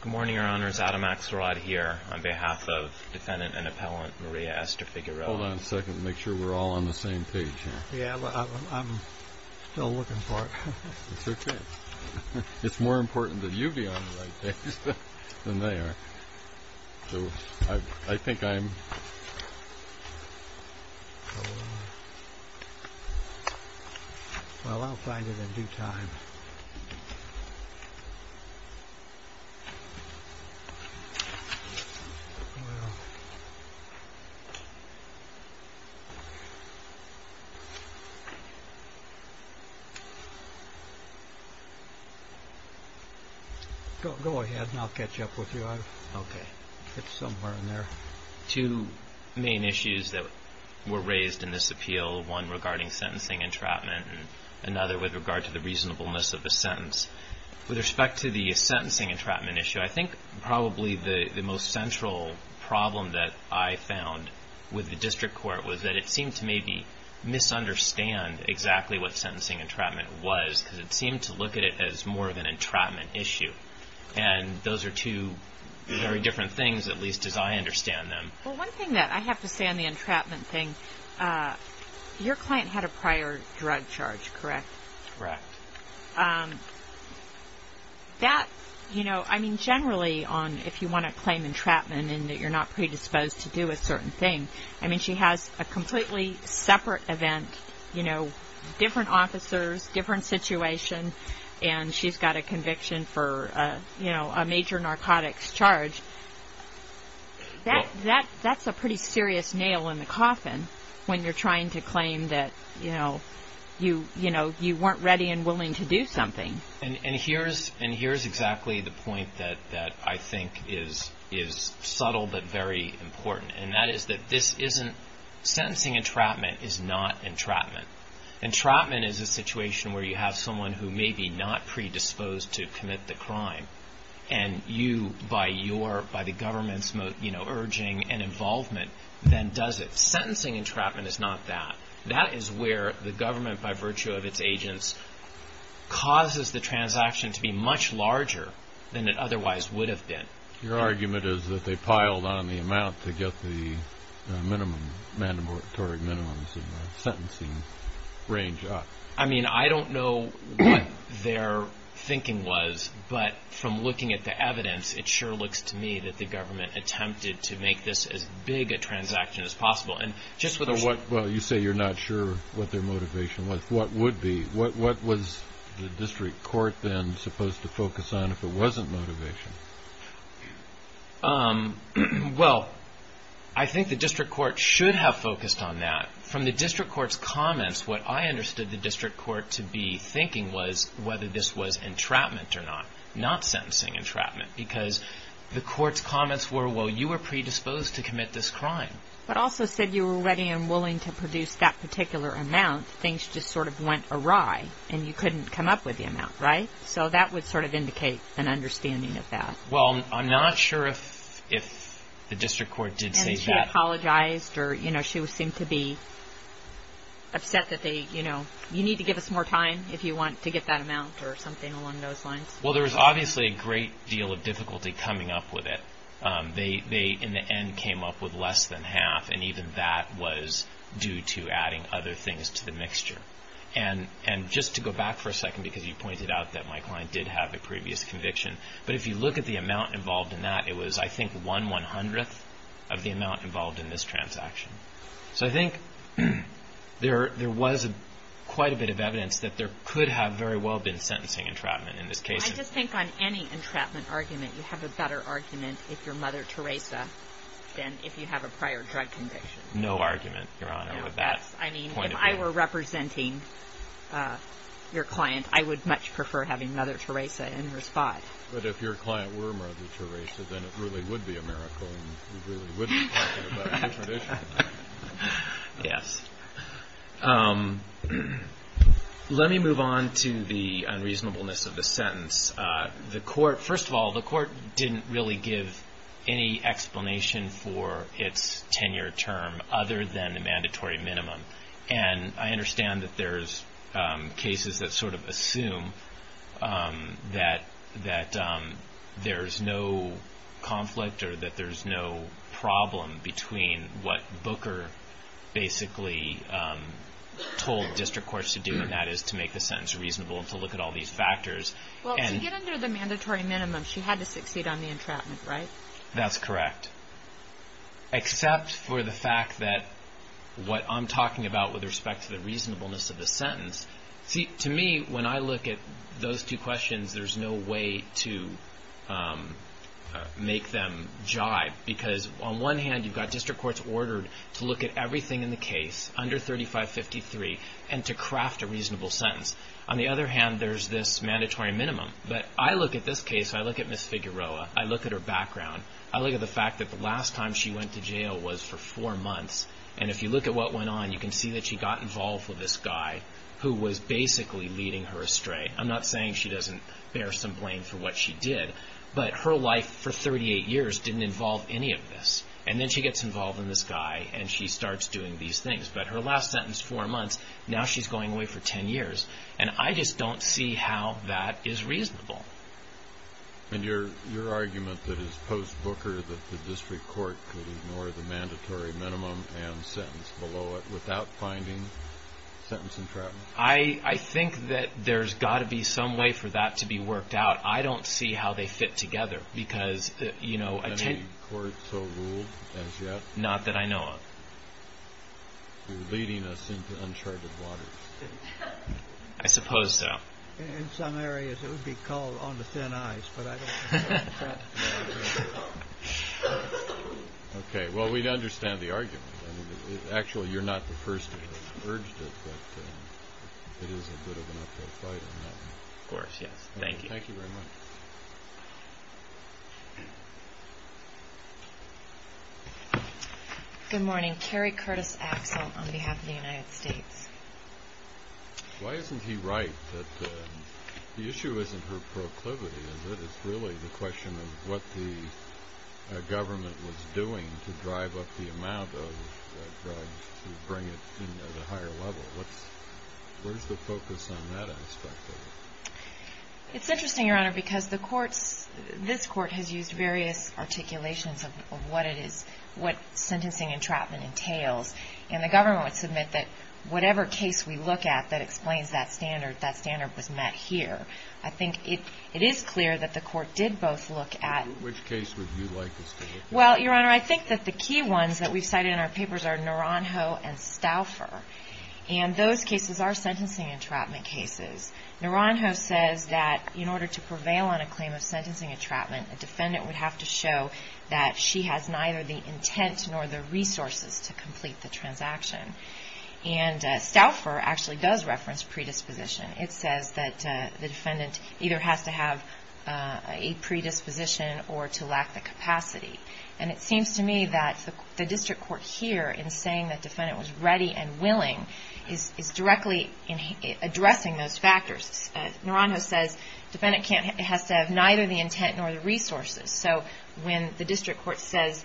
Good morning, your honors. Adam Axelrod here on behalf of defendant and appellant Maria Esther Figueroa. Hold on a second. Make sure we're all on the same page here. Yeah, I'm still looking for it. It's okay. It's more important that you be on the right page than they are. So, I think I'm... Well, I'll find it in due time. Go ahead and I'll catch up with you. Okay. It's somewhere in there. Two main issues that were raised in this appeal, one regarding sentencing entrapment and another with regard to the reasonableness of the sentence. With respect to the sentencing entrapment issue, I think probably the most central problem that I found with the district court was that it seemed to maybe misunderstand exactly what sentencing entrapment was because it seemed to look at it as more of an entrapment issue. And those are two very different things, at least as I understand them. Well, one thing that I have to say on the entrapment thing, your client had a prior drug charge, correct? Correct. That, you know, I mean, generally if you want to claim entrapment and that you're not predisposed to do a certain thing, I mean, she has a completely separate event, you know, different officers, different situation, and she's got a conviction for, you know, a major narcotics charge. That's a pretty serious nail in the coffin when you're trying to claim that, you know, you weren't ready and willing to do something. And here's exactly the point that I think is subtle but very important, and that is that this isn't, sentencing entrapment is not entrapment. Entrapment is a situation where you have someone who may be not predisposed to commit the crime and you, by the government's, you know, urging and involvement, then does it. Sentencing entrapment is not that. That is where the government, by virtue of its agents, causes the transaction to be much larger than it otherwise would have been. Your argument is that they piled on the amount to get the minimum, mandatory minimums in the sentencing range up. I mean, I don't know what their thinking was, but from looking at the evidence, it sure looks to me that the government attempted to make this as big a transaction as possible. And just with a what, well, you say you're not sure what their motivation was, what would be, what was the district court then supposed to focus on if it wasn't motivation? Well, I think the district court should have focused on that. From the district court's comments, what I understood the district court to be thinking was whether this was entrapment or not, not sentencing entrapment, because the court's comments were, well, you were predisposed to commit this crime. But also said you were ready and willing to produce that particular amount. Things just sort of went awry and you couldn't come up with the amount, right? So that would sort of indicate an understanding of that. Well, I'm not sure if the district court did say that. And she apologized or she seemed to be upset that they, you know, you need to give us more time if you want to get that amount or something along those lines. Well, there was obviously a great deal of difficulty coming up with it. They, in the end, came up with less than half. And even that was due to adding other things to the mixture. And just to go back for a second, because you pointed out that my client did have a previous conviction, but if you look at the amount involved in that, it was, I think, one one-hundredth of the amount involved in this transaction. So I think there was quite a bit of evidence that there could have very well been sentencing entrapment in this case. I just think on any entrapment argument, you have a better argument if you're Mother Teresa than if you have a prior drug conviction. No argument, Your Honor, with that point of view. I mean, if I were representing your client, I would much prefer having Mother Teresa in response. But if your client were Mother Teresa, then it really would be a miracle and we really would be talking about a different issue. Yes. Let me move on to the unreasonableness of the sentence. First of all, the court didn't really give any explanation for its tenure term other than the mandatory minimum. And I understand that there's cases that sort of assume that there's no conflict or that there's no problem between what Booker basically told district courts to do, and that is to make the sentence reasonable and to look at all these factors. Well, to get under the mandatory minimum, she had to succeed on the entrapment, right? That's correct. Except for the fact that what I'm talking about with respect to the reasonableness of the sentence, see, to me, when I look at those two questions, there's no way to make them jive. Because on one hand, you've got district courts ordered to look at everything in the case under 3553 and to craft a reasonable sentence. On the other hand, there's this mandatory minimum. But I look at this case, I look at Ms. Figueroa, I look at her background, I look at the fact that the last time she went to jail was for four months. And if you look at what went on, you can see that she got involved with this guy who was basically leading her astray. I'm not saying she doesn't bear some blame for what she did, but her life for 38 years didn't involve any of this. And then she gets involved with this guy and she starts doing these things. But her last sentence, four months, now she's going away for 10 years. And I just don't see how that is reasonable. And your argument that it's post-Booker that the district court could ignore the mandatory minimum and sentence below it without finding sentence entrapment? I think that there's got to be some way for that to be worked out. I don't see how they fit together because, you know, I tend to... Any court so ruled as yet? Not that I know of. You're leading us into uncharted waters. I suppose so. In some areas, it would be called on the thin ice, but I don't... Okay, well, we understand the argument. Actually, you're not the first to have urged it, but it is a bit of an uphill fight on that one. Of course, yes. Thank you. Thank you very much. Thank you. Good morning. Carrie Curtis Axel on behalf of the United States. Why isn't he right that the issue isn't her proclivity? It's really the question of what the government was doing to drive up the amount of drugs to bring it to the higher level. Where's the focus on that aspect of it? It's interesting, Your Honor, because the courts... This court has used various articulations of what it is, what sentencing entrapment entails, and the government would submit that whatever case we look at that explains that standard, that standard was met here. I think it is clear that the court did both look at... Which case would you like us to look at? Well, Your Honor, I think that the key ones that we've cited in our papers are Naranjo and Stauffer, and those cases are sentencing entrapment cases. Naranjo says that in order to prevail on a claim of sentencing entrapment, a defendant would have to show that she has neither the intent nor the resources to complete the transaction. And Stauffer actually does reference predisposition. It says that the defendant either has to have a predisposition or to lack the capacity. And it seems to me that the district court here, in saying that the defendant was ready and willing, is directly addressing those factors. Naranjo says the defendant has to have neither the intent nor the resources. So when the district court says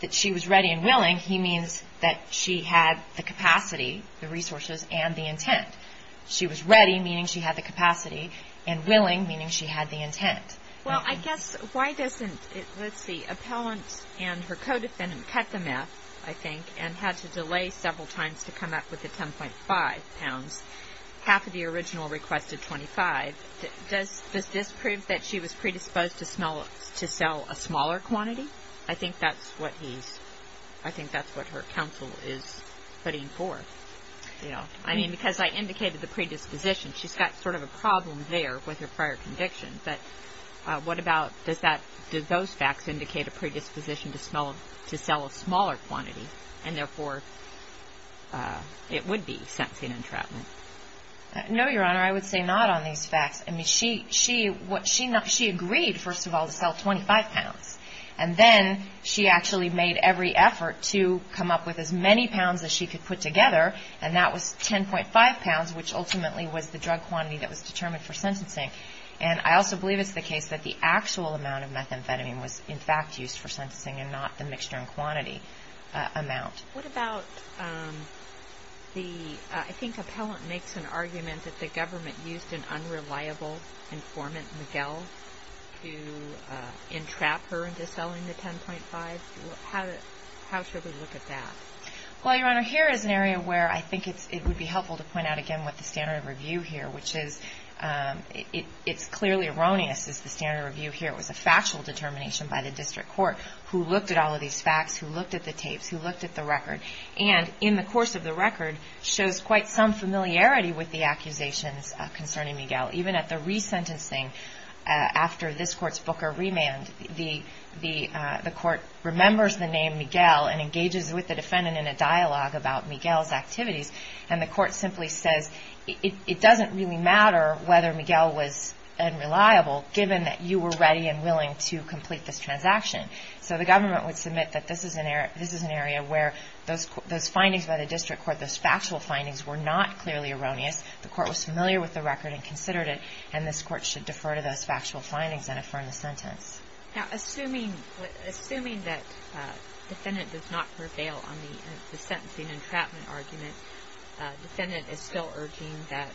that she was ready and willing, he means that she had the capacity, the resources, and the intent. She was ready, meaning she had the capacity, and willing, meaning she had the intent. Well, I guess why doesn't, let's see, appellant and her co-defendant cut the meth, I think, and had to delay several times to come up with the 10.5 pounds. Half of the original requested 25. Does this prove that she was predisposed to sell a smaller quantity? I think that's what he's, I think that's what her counsel is putting forth. I mean, because I indicated the predisposition. She's got sort of a problem there with her prior conviction. But what about, does that, do those facts indicate a predisposition to sell a smaller quantity, and therefore it would be sentencing entrapment? No, Your Honor, I would say not on these facts. I mean, she agreed, first of all, to sell 25 pounds. And then she actually made every effort to come up with as many pounds as she could put together, and that was 10.5 pounds, which ultimately was the drug quantity that was determined for sentencing. And I also believe it's the case that the actual amount of methamphetamine was, in fact, used for sentencing and not the mixture and quantity amount. What about the, I think Appellant makes an argument that the government used an unreliable informant, Miguel, to entrap her into selling the 10.5. How should we look at that? Well, Your Honor, here is an area where I think it would be helpful to point out, again, what the standard of review here, which is, it's clearly erroneous is the standard of review here. It was a factual determination by the district court who looked at all of these facts, who looked at the tapes, who looked at the record, and in the course of the record shows quite some familiarity with the accusations concerning Miguel. Even at the resentencing after this court's Booker remand, the court remembers the name Miguel and engages with the defendant in a dialogue about Miguel's activities, and the court simply says, it doesn't really matter whether Miguel was unreliable, given that you were ready and willing to complete this transaction. So the government would submit that this is an area where those findings by the district court, those factual findings, were not clearly erroneous. The court was familiar with the record and considered it, and this court should defer to those factual findings and affirm the sentence. Now, assuming that the defendant does not prevail on the sentencing entrapment argument, the defendant is still urging that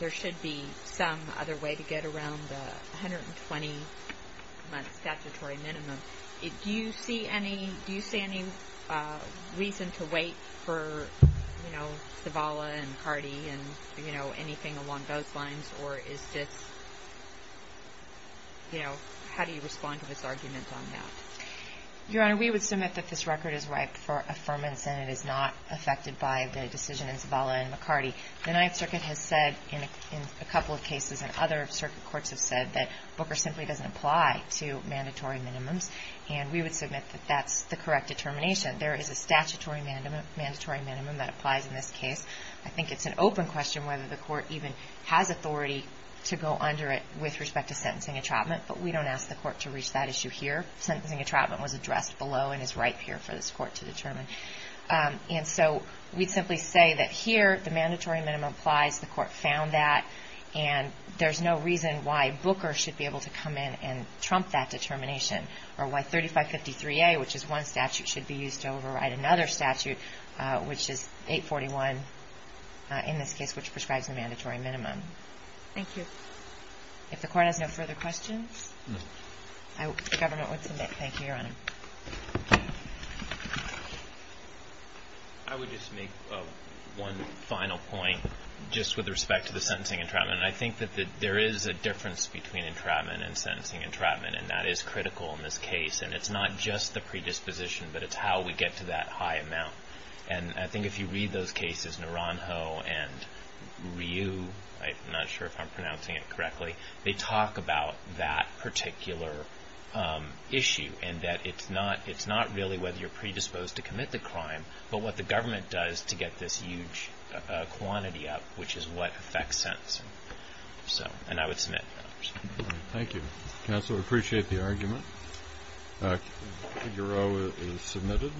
there should be some other way to get around the 120-month statutory minimum. Do you see any reason to wait for Zavala and Hardy and anything along those lines, or is this, you know, how do you respond to this argument on that? Your Honor, we would submit that this record is ripe for affirmance and it is not affected by the decision in Zavala and McCarty. The Ninth Circuit has said in a couple of cases, and other circuit courts have said that Booker simply doesn't apply to mandatory minimums, and we would submit that that's the correct determination. There is a statutory mandatory minimum that applies in this case. I think it's an open question whether the court even has authority to go under it with respect to sentencing entrapment, but we don't ask the court to reach that issue here. Sentencing entrapment was addressed below and is ripe here for this court to determine. And so we'd simply say that here the mandatory minimum applies, the court found that, and there's no reason why Booker should be able to come in and trump that determination, or why 3553A, which is one statute, should be used to override another statute, which is 841 in this case, which prescribes the mandatory minimum. Thank you. If the court has no further questions, I hope the government would submit. Thank you, Your Honor. I would just make one final point just with respect to the sentencing entrapment. I think that there is a difference between entrapment and sentencing entrapment, and that is critical in this case, and it's not just the predisposition, but it's how we get to that high amount. And I think if you read those cases, Naranjo and Ryu, I'm not sure if I'm pronouncing it correctly, they talk about that particular issue, and that it's not really whether you're predisposed to commit the crime, but what the government does to get this huge quantity up, which is what affects sentencing. And I would submit. Thank you. Counsel, we appreciate the argument. Figaro is submitted.